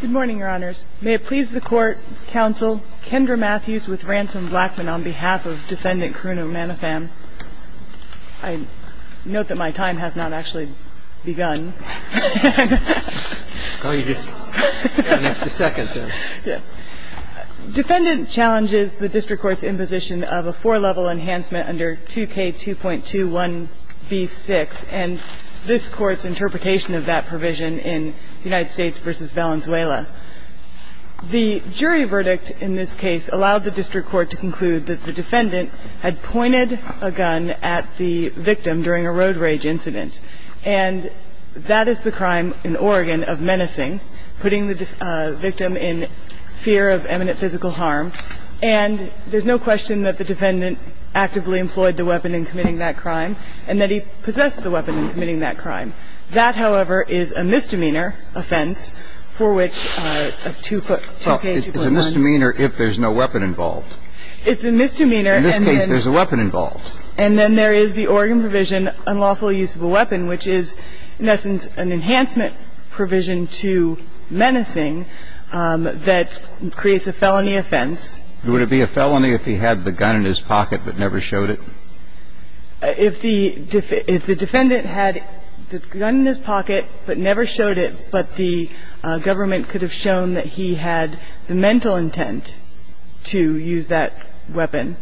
Good morning, Your Honors. May it please the Court, Counsel Kendra Matthews with Ransom Blackman on behalf of Defendant Karuna Manotham. I note that my time has not actually begun. Defendant challenges the District Court's imposition of a four-level enhancement under 2K2.21b6 and this Court's interpretation of that provision in United States v. Valenzuela. The jury verdict in this case allowed the District Court to conclude that the defendant had pointed a gun at the victim during a road rage incident. And that is the crime in Oregon of menacing, putting the victim in fear of imminent physical harm. And there's no question that the defendant actively employed the weapon in committing that crime and that he possessed the weapon in committing that crime. That, however, is a misdemeanor offense for which a 2K2.9 Well, it's a misdemeanor if there's no weapon involved. It's a misdemeanor and then In this case, there's a weapon involved. And then there is the Oregon provision, unlawful use of a weapon, which is, in essence, an enhancement provision to menacing that creates a felony offense. Would it be a felony if he had the gun in his pocket but never showed it? If the defendant had the gun in his pocket but never showed it, but the government could have shown that he had the mental intent to use that weapon,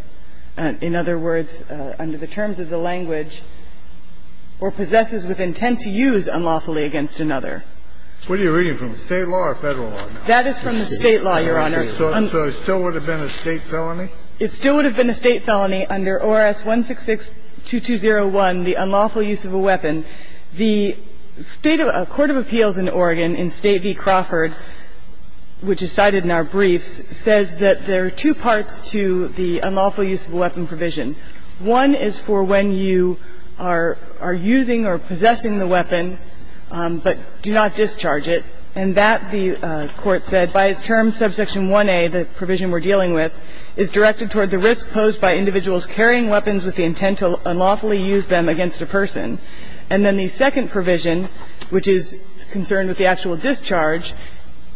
in other words, under the terms of the language, or possesses with intent to use unlawfully against another. What are you reading from? State law or Federal law? That is from the State law, Your Honor. So it still would have been a State felony? It still would have been a State felony under ORS 166-2201, the unlawful use of a weapon. The State of the Court of Appeals in Oregon, in State v. Crawford, which is cited in our briefs, says that there are two parts to the unlawful use of a weapon provision. One is for when you are using or possessing the weapon, but do not discharge it, and that, the Court said, by its terms, subsection 1A, the provision we're dealing with, is directed toward the risk posed by individuals carrying weapons with the intent to unlawfully use them against a person. And then the second provision, which is concerned with the actual discharge,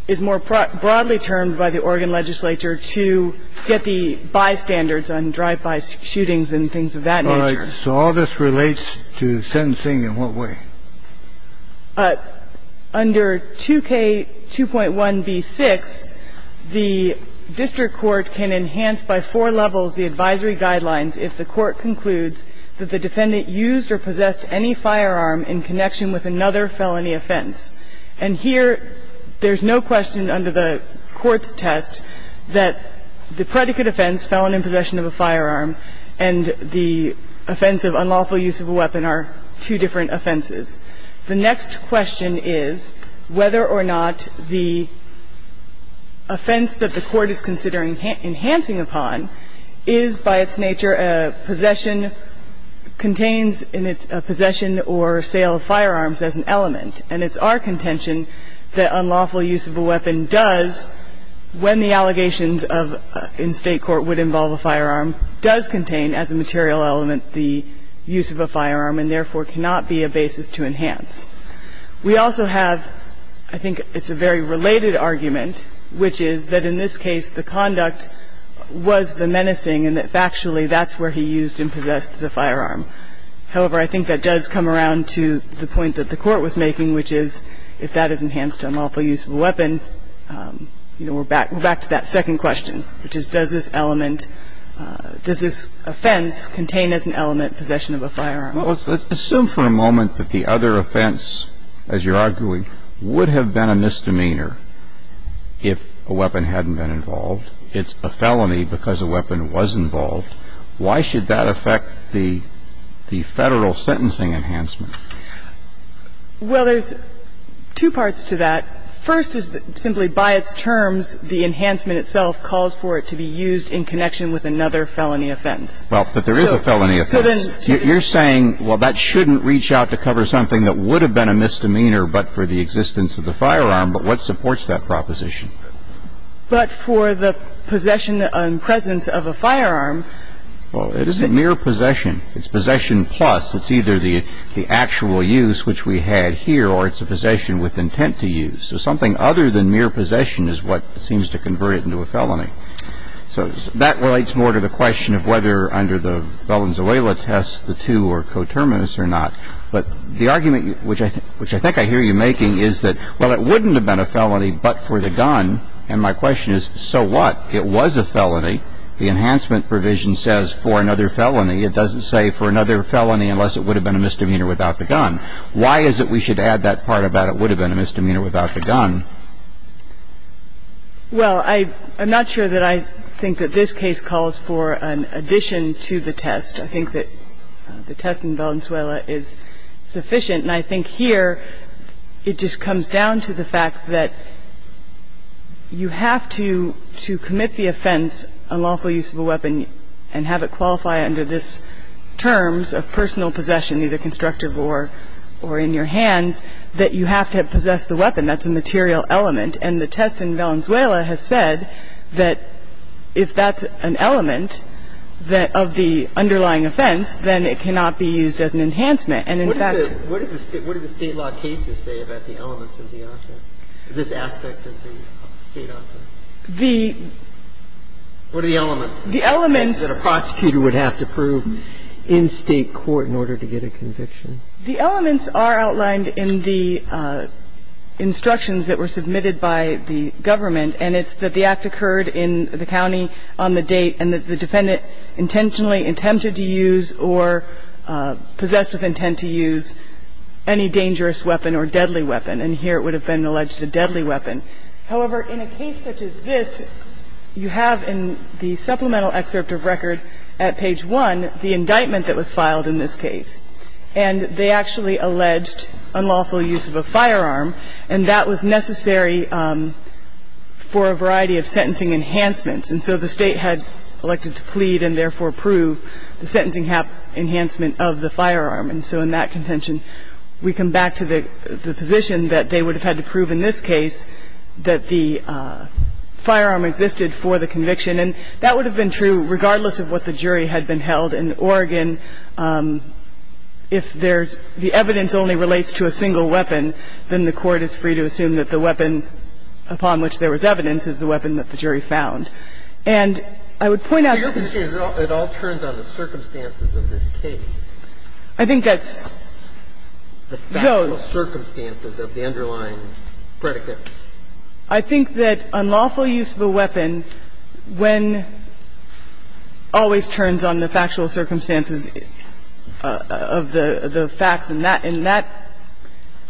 is more broadly termed by the Oregon legislature to get the bystanders on drive-by shootings and things of that nature. So all this relates to sentencing in what way? Under 2K2.1b6, the district court can enhance by four levels the advisory guidelines if the court concludes that the defendant used or possessed any firearm in connection with another felony offense. And here, there's no question under the court's test that the predicate offense, felony possession of a firearm, and the offense of unlawful use of a weapon are two different offenses. The next question is whether or not the offense that the court is considering enhancing upon is, by its nature, a possession, contains in its possession or sale of firearms as an element. And it's our contention that unlawful use of a weapon does when the allegations of, in State court, would involve a firearm, does contain as a material element the use of a firearm and, therefore, cannot be a basis to enhance. We also have, I think it's a very related argument, which is that in this case, the conduct was the menacing and that factually that's where he used and possessed the firearm. However, I think that does come around to the point that the court was making, which is if that is enhanced to unlawful use of a weapon, you know, we're back to that second question, which is does this element, does this offense contain as an element possession of a firearm? Well, let's assume for a moment that the other offense, as you're arguing, would have been a misdemeanor if a weapon hadn't been involved. It's a felony because a weapon was involved. Why should that affect the Federal sentencing enhancement? Well, there's two parts to that. First is simply by its terms the enhancement itself calls for it to be used in connection with another felony offense. Well, but there is a felony offense. You're saying, well, that shouldn't reach out to cover something that would have been a misdemeanor but for the existence of the firearm, but what supports that proposition? But for the possession and presence of a firearm. Well, it is a mere possession. It's possession plus. It's either the actual use, which we had here, or it's a possession with intent to use. So something other than mere possession is what seems to convert it into a felony. So that relates more to the question of whether under the Valenzuela test the two are coterminous or not, but the argument which I think I hear you making is that, well, it wouldn't have been a felony but for the gun, and my question is, so what? It was a felony. The enhancement provision says for another felony. It doesn't say for another felony unless it would have been a misdemeanor without the gun. Why is it we should add that part about it would have been a misdemeanor without the gun? Well, I'm not sure that I think that this case calls for an addition to the test. I think that the test in Valenzuela is sufficient, and I think here it just comes down to the fact that you have to commit the offense, unlawful use of a weapon, and have it qualify under this terms of personal possession, either constructive or in your hands, that you have to have possessed the weapon. That's a material element. And the test in Valenzuela has said that if that's an element that of the underlying offense, then it cannot be used as an enhancement. And, in fact the state law cases say about the elements of the offense, this aspect of the state offense? What are the elements? The elements. That a prosecutor would have to prove in state court in order to get a conviction? The elements are outlined in the instructions that were submitted by the government, and it's that the act occurred in the county on the date and that the defendant intentionally attempted to use or possessed with intent to use any dangerous weapon or deadly weapon. And here it would have been alleged a deadly weapon. However, in a case such as this, you have in the supplemental excerpt of record at page 1 the indictment that was filed in this case. And they actually alleged unlawful use of a firearm, and that was necessary for a variety of sentencing enhancements. And so the State had elected to plead and therefore prove the sentencing enhancement of the firearm. And so in that contention, we come back to the position that they would have had to prove that the firearm existed for the conviction. And that would have been true regardless of what the jury had been held. In Oregon, if there's the evidence only relates to a single weapon, then the court is free to assume that the weapon upon which there was evidence is the weapon that the jury found. And I would point out the other thing is it all turns on the circumstances of this case. I think that's the factual circumstances of the underlying predicate. I think that unlawful use of a weapon when always turns on the factual circumstances of the facts in that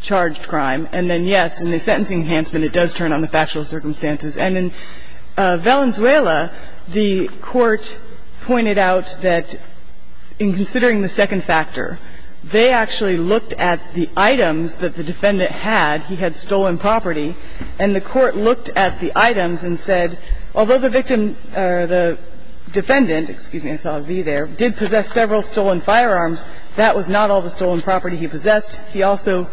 charged crime, and then, yes, in the sentencing enhancement it does turn on the factual circumstances. And in Valenzuela, the Court pointed out that in considering the second factor, they actually looked at the items that the defendant had. He had stolen property. And the Court looked at the items and said, although the victim or the defendant – excuse me, I saw a V there – did possess several stolen firearms, that was not all the stolen property he possessed. He also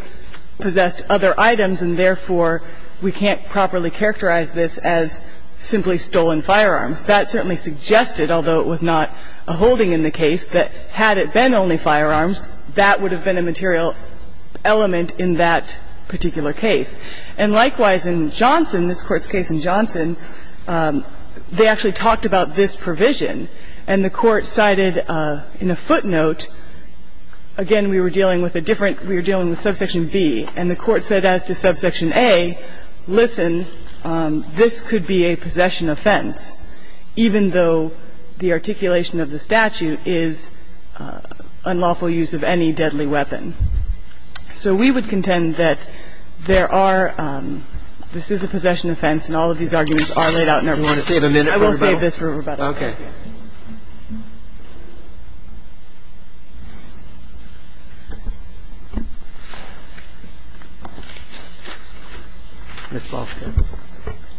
possessed other items and therefore we can't properly characterize this as simply stolen firearms. That certainly suggested, although it was not a holding in the case, that had it been only firearms, that would have been a material element in that particular case. And likewise in Johnson, this Court's case in Johnson, they actually talked about this provision. And the Court cited in a footnote, again, we were dealing with a different – we were dealing with subsection B. And the Court said as to subsection A, listen, this could be a possession offense, even though the articulation of the statute is unlawful use of any deadly weapon. So we would contend that there are – this is a possession offense and all of these arguments are laid out in every one of them. I will save this for rebuttal. Roberts. Ms. Balfour.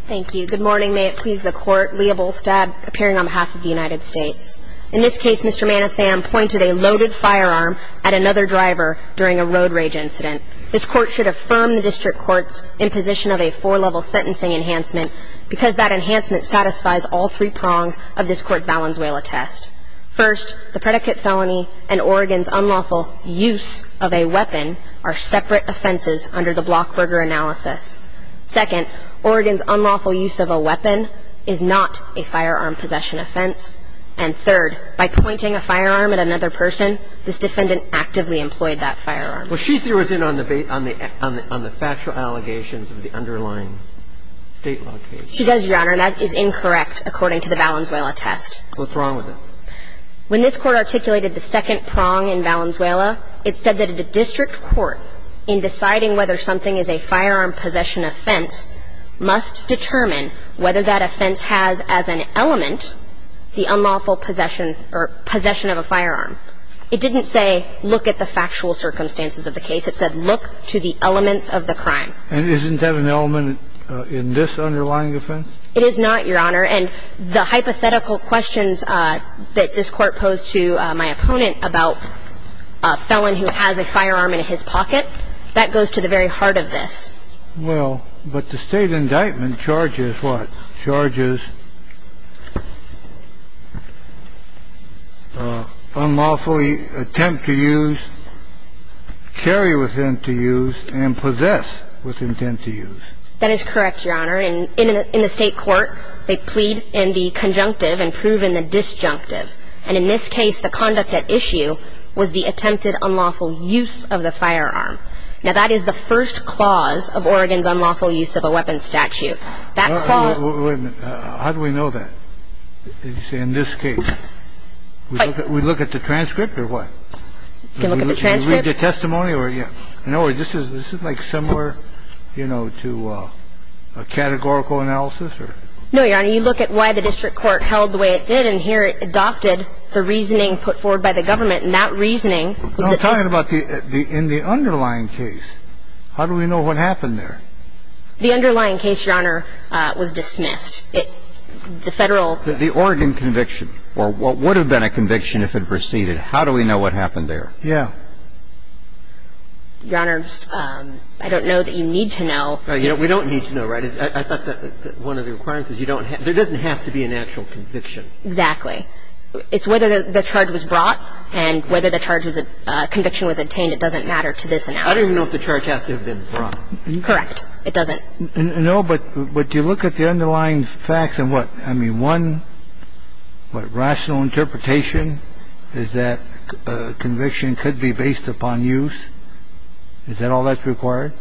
Thank you. Good morning. May it please the Court. Leah Bolstad appearing on behalf of the United States. In this case, Mr. Manatham pointed a loaded firearm at another driver during a road rage incident. This Court should affirm the District Court's imposition of a four-level sentencing enhancement because that enhancement satisfies all three prongs of this Court's Valenzuela test. First, the predicate felony and Oregon's unlawful use of a weapon are separate offenses under the Blockberger analysis. Second, Oregon's unlawful use of a weapon is not a firearm possession offense. And third, by pointing a firearm at another person, this defendant actively employed that firearm. Well, she zeroes in on the factual allegations of the underlying State law case. She does, Your Honor, and that is incorrect according to the Valenzuela test. What's wrong with it? When this Court articulated the second prong in Valenzuela, it said that the District Court, in deciding whether something is a firearm possession offense, must determine whether that offense has as an element the unlawful possession or possession of a firearm. It didn't say look at the factual circumstances of the case. It said look to the elements of the crime. And isn't that an element in this underlying offense? It is not, Your Honor. And the hypothetical questions that this Court posed to my opponent about a felon who has a firearm in his pocket, that goes to the very heart of this. Well, but the State indictment charges what? Charges unlawfully attempt to use, carry with intent to use, and possess with intent to use. That is correct, Your Honor. In the State court, they plead in the conjunctive and prove in the disjunctive. And in this case, the conduct at issue was the attempted unlawful use of the firearm. Now, that is the first clause of Oregon's unlawful use of a weapon statute. That clause -- Wait a minute. How do we know that in this case? We look at the transcript or what? You can look at the transcript. Do you read the testimony? In other words, this is like similar, you know, to a categorical analysis? No, Your Honor. You look at why the district court held the way it did, and here it adopted the reasoning put forward by the government. And that reasoning was that this -- I'm talking about in the underlying case. How do we know what happened there? The underlying case, Your Honor, was dismissed. The Federal -- The Oregon conviction or what would have been a conviction if it proceeded, how do we know what happened there? Yeah. Your Honor, I don't know that you need to know. We don't need to know, right? I thought that one of the requirements is you don't have to be an actual conviction. Exactly. It's whether the charge was brought and whether the charge was a conviction was obtained. It doesn't matter to this analysis. I don't even know if the charge has to have been brought. Correct. It doesn't. No, but you look at the underlying facts and what? I mean, one rational interpretation is that conviction could be based upon use. Is that all that's required?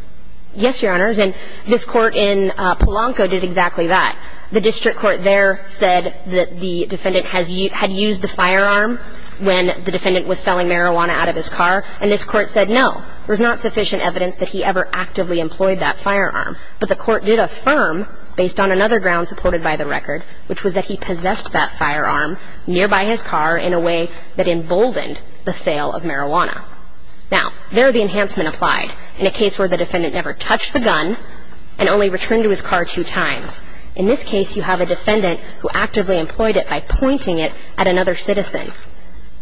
Yes, Your Honor. And this Court in Polanco did exactly that. The district court there said that the defendant had used the firearm when the defendant was selling marijuana out of his car, and this Court said no. There's not sufficient evidence that he ever actively employed that firearm. But the Court did affirm, based on another ground supported by the record, which was that he possessed that firearm nearby his car in a way that emboldened the sale of marijuana. Now, there the enhancement applied in a case where the defendant never touched the gun and only returned to his car two times. In this case, you have a defendant who actively employed it by pointing it at another citizen.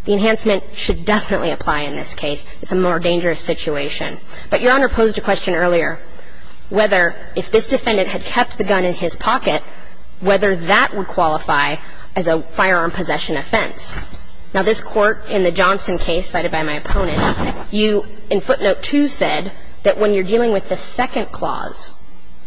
The enhancement should definitely apply in this case. It's a more dangerous situation. But Your Honor posed a question earlier, whether if this defendant had kept the gun in his pocket, whether that would qualify as a firearm possession offense. Now, this Court in the Johnson case cited by my opponent, you in footnote 2 said that when you're dealing with the second clause,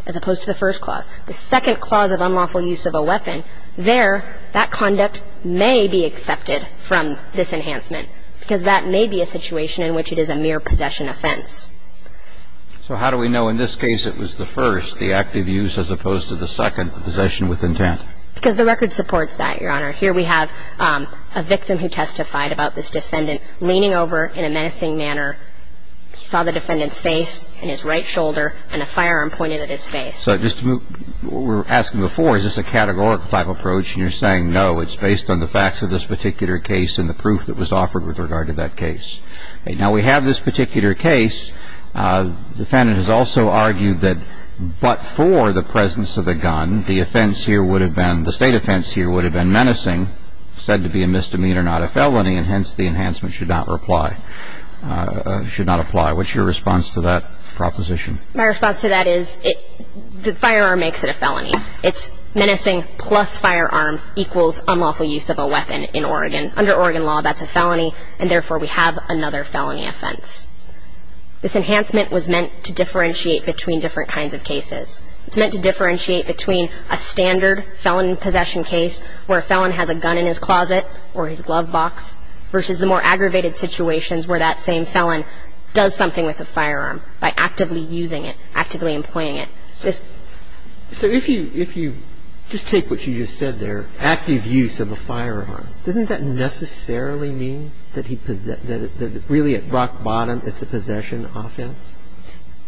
as opposed to the first clause, the second clause of unlawful use of a weapon, there, that conduct may be accepted from this enhancement, because that may be a situation in which it is a mere possession offense. So how do we know in this case it was the first, the active use, as opposed to the second, the possession with intent? Because the record supports that, Your Honor. Here we have a victim who testified about this defendant leaning over in a menacing manner. He saw the defendant's face and his right shoulder and a firearm pointed at his face. So just to move, what we were asking before, is this a categorical type approach? And you're saying, no, it's based on the facts of this particular case and the proof that was offered with regard to that case. Now, we have this particular case. The defendant has also argued that but for the presence of the gun, the offense here would have been menacing, said to be a misdemeanor, not a felony, and hence the enhancement should not apply. What's your response to that proposition? My response to that is the firearm makes it a felony. It's menacing plus firearm equals unlawful use of a weapon in Oregon. Under Oregon law, that's a felony, and therefore we have another felony offense. This enhancement was meant to differentiate between different kinds of cases. It's meant to differentiate between a standard felon possession case where a felon has a gun in his closet or his glove box versus the more aggravated situations where that same felon does something with a firearm by actively using it, actively employing it. So if you just take what you just said there, active use of a firearm, doesn't that necessarily mean that really at rock bottom it's a possession offense?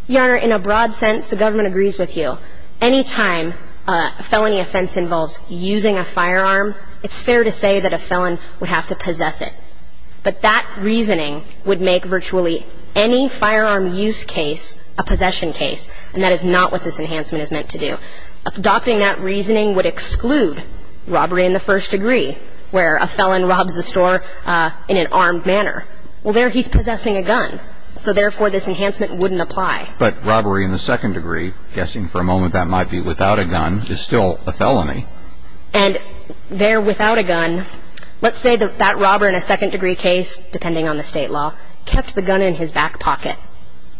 Your Honor, in a broad sense, the government agrees with you. Any time a felony offense involves using a firearm, it's fair to say that a felon would have to possess it. But that reasoning would make virtually any firearm use case a possession case, and that is not what this enhancement is meant to do. Adopting that reasoning would exclude robbery in the first degree where a felon robs a store in an armed manner. Well, there he's possessing a gun. So, therefore, this enhancement wouldn't apply. But robbery in the second degree, guessing for a moment that might be without a gun, is still a felony. And there without a gun, let's say that that robber in a second degree case, depending on the State law, kept the gun in his back pocket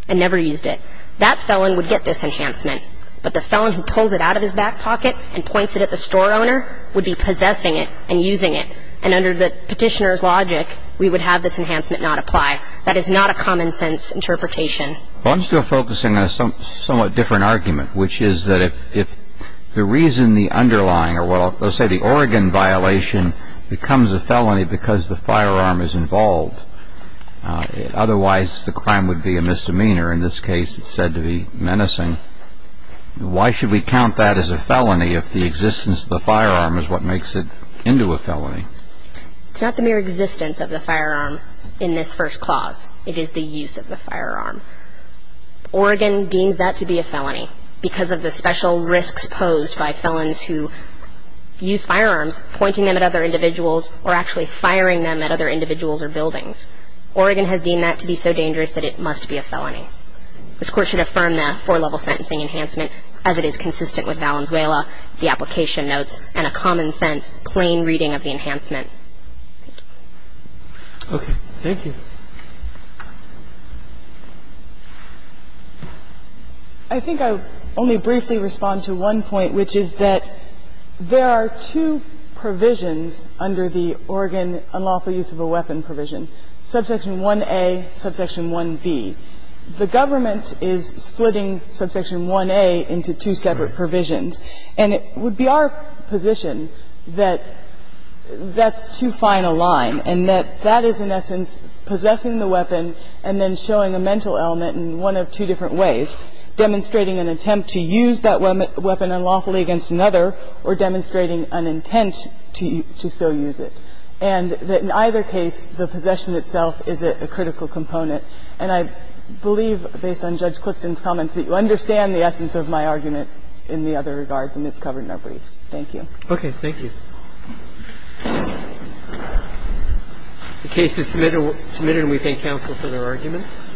and never used it. That felon would get this enhancement, but the felon who pulls it out of his back pocket and points it at the store owner would be possessing it and using it. And under the Petitioner's logic, we would have this enhancement not apply. That is not a common sense interpretation. Well, I'm still focusing on a somewhat different argument, which is that if the reason the underlying or, well, let's say the Oregon violation becomes a felony because the firearm is involved, otherwise the crime would be a misdemeanor. In this case, it's said to be menacing. Why should we count that as a felony if the existence of the firearm is what makes it into a felony? It's not the mere existence of the firearm in this first clause. It is the use of the firearm. Oregon deems that to be a felony because of the special risks posed by felons who use firearms pointing them at other individuals or actually firing them at other individuals or buildings. Oregon has deemed that to be so dangerous that it must be a felony. This Court should affirm that four-level sentencing enhancement, as it is consistent with Valenzuela, the application notes, and a common-sense, plain reading of the enhancement. Thank you. Okay. Thank you. I think I'll only briefly respond to one point, which is that there are two provisions under the Oregon unlawful use of a weapon provision, Subsection 1A, Subsection 1B. The government is splitting Subsection 1A into two separate provisions. And it would be our position that that's too fine a line and that that is in essence possessing the weapon and then showing a mental element in one of two different ways, demonstrating an attempt to use that weapon unlawfully against another or demonstrating an intent to so use it, and that in either case the possession itself is a critical component. And I believe, based on Judge Clifton's comments, that you understand the essence of my argument in the other regards, and it's covered in our briefs. Thank you. Okay. Thank you. The case is submitted, and we thank counsel for their arguments.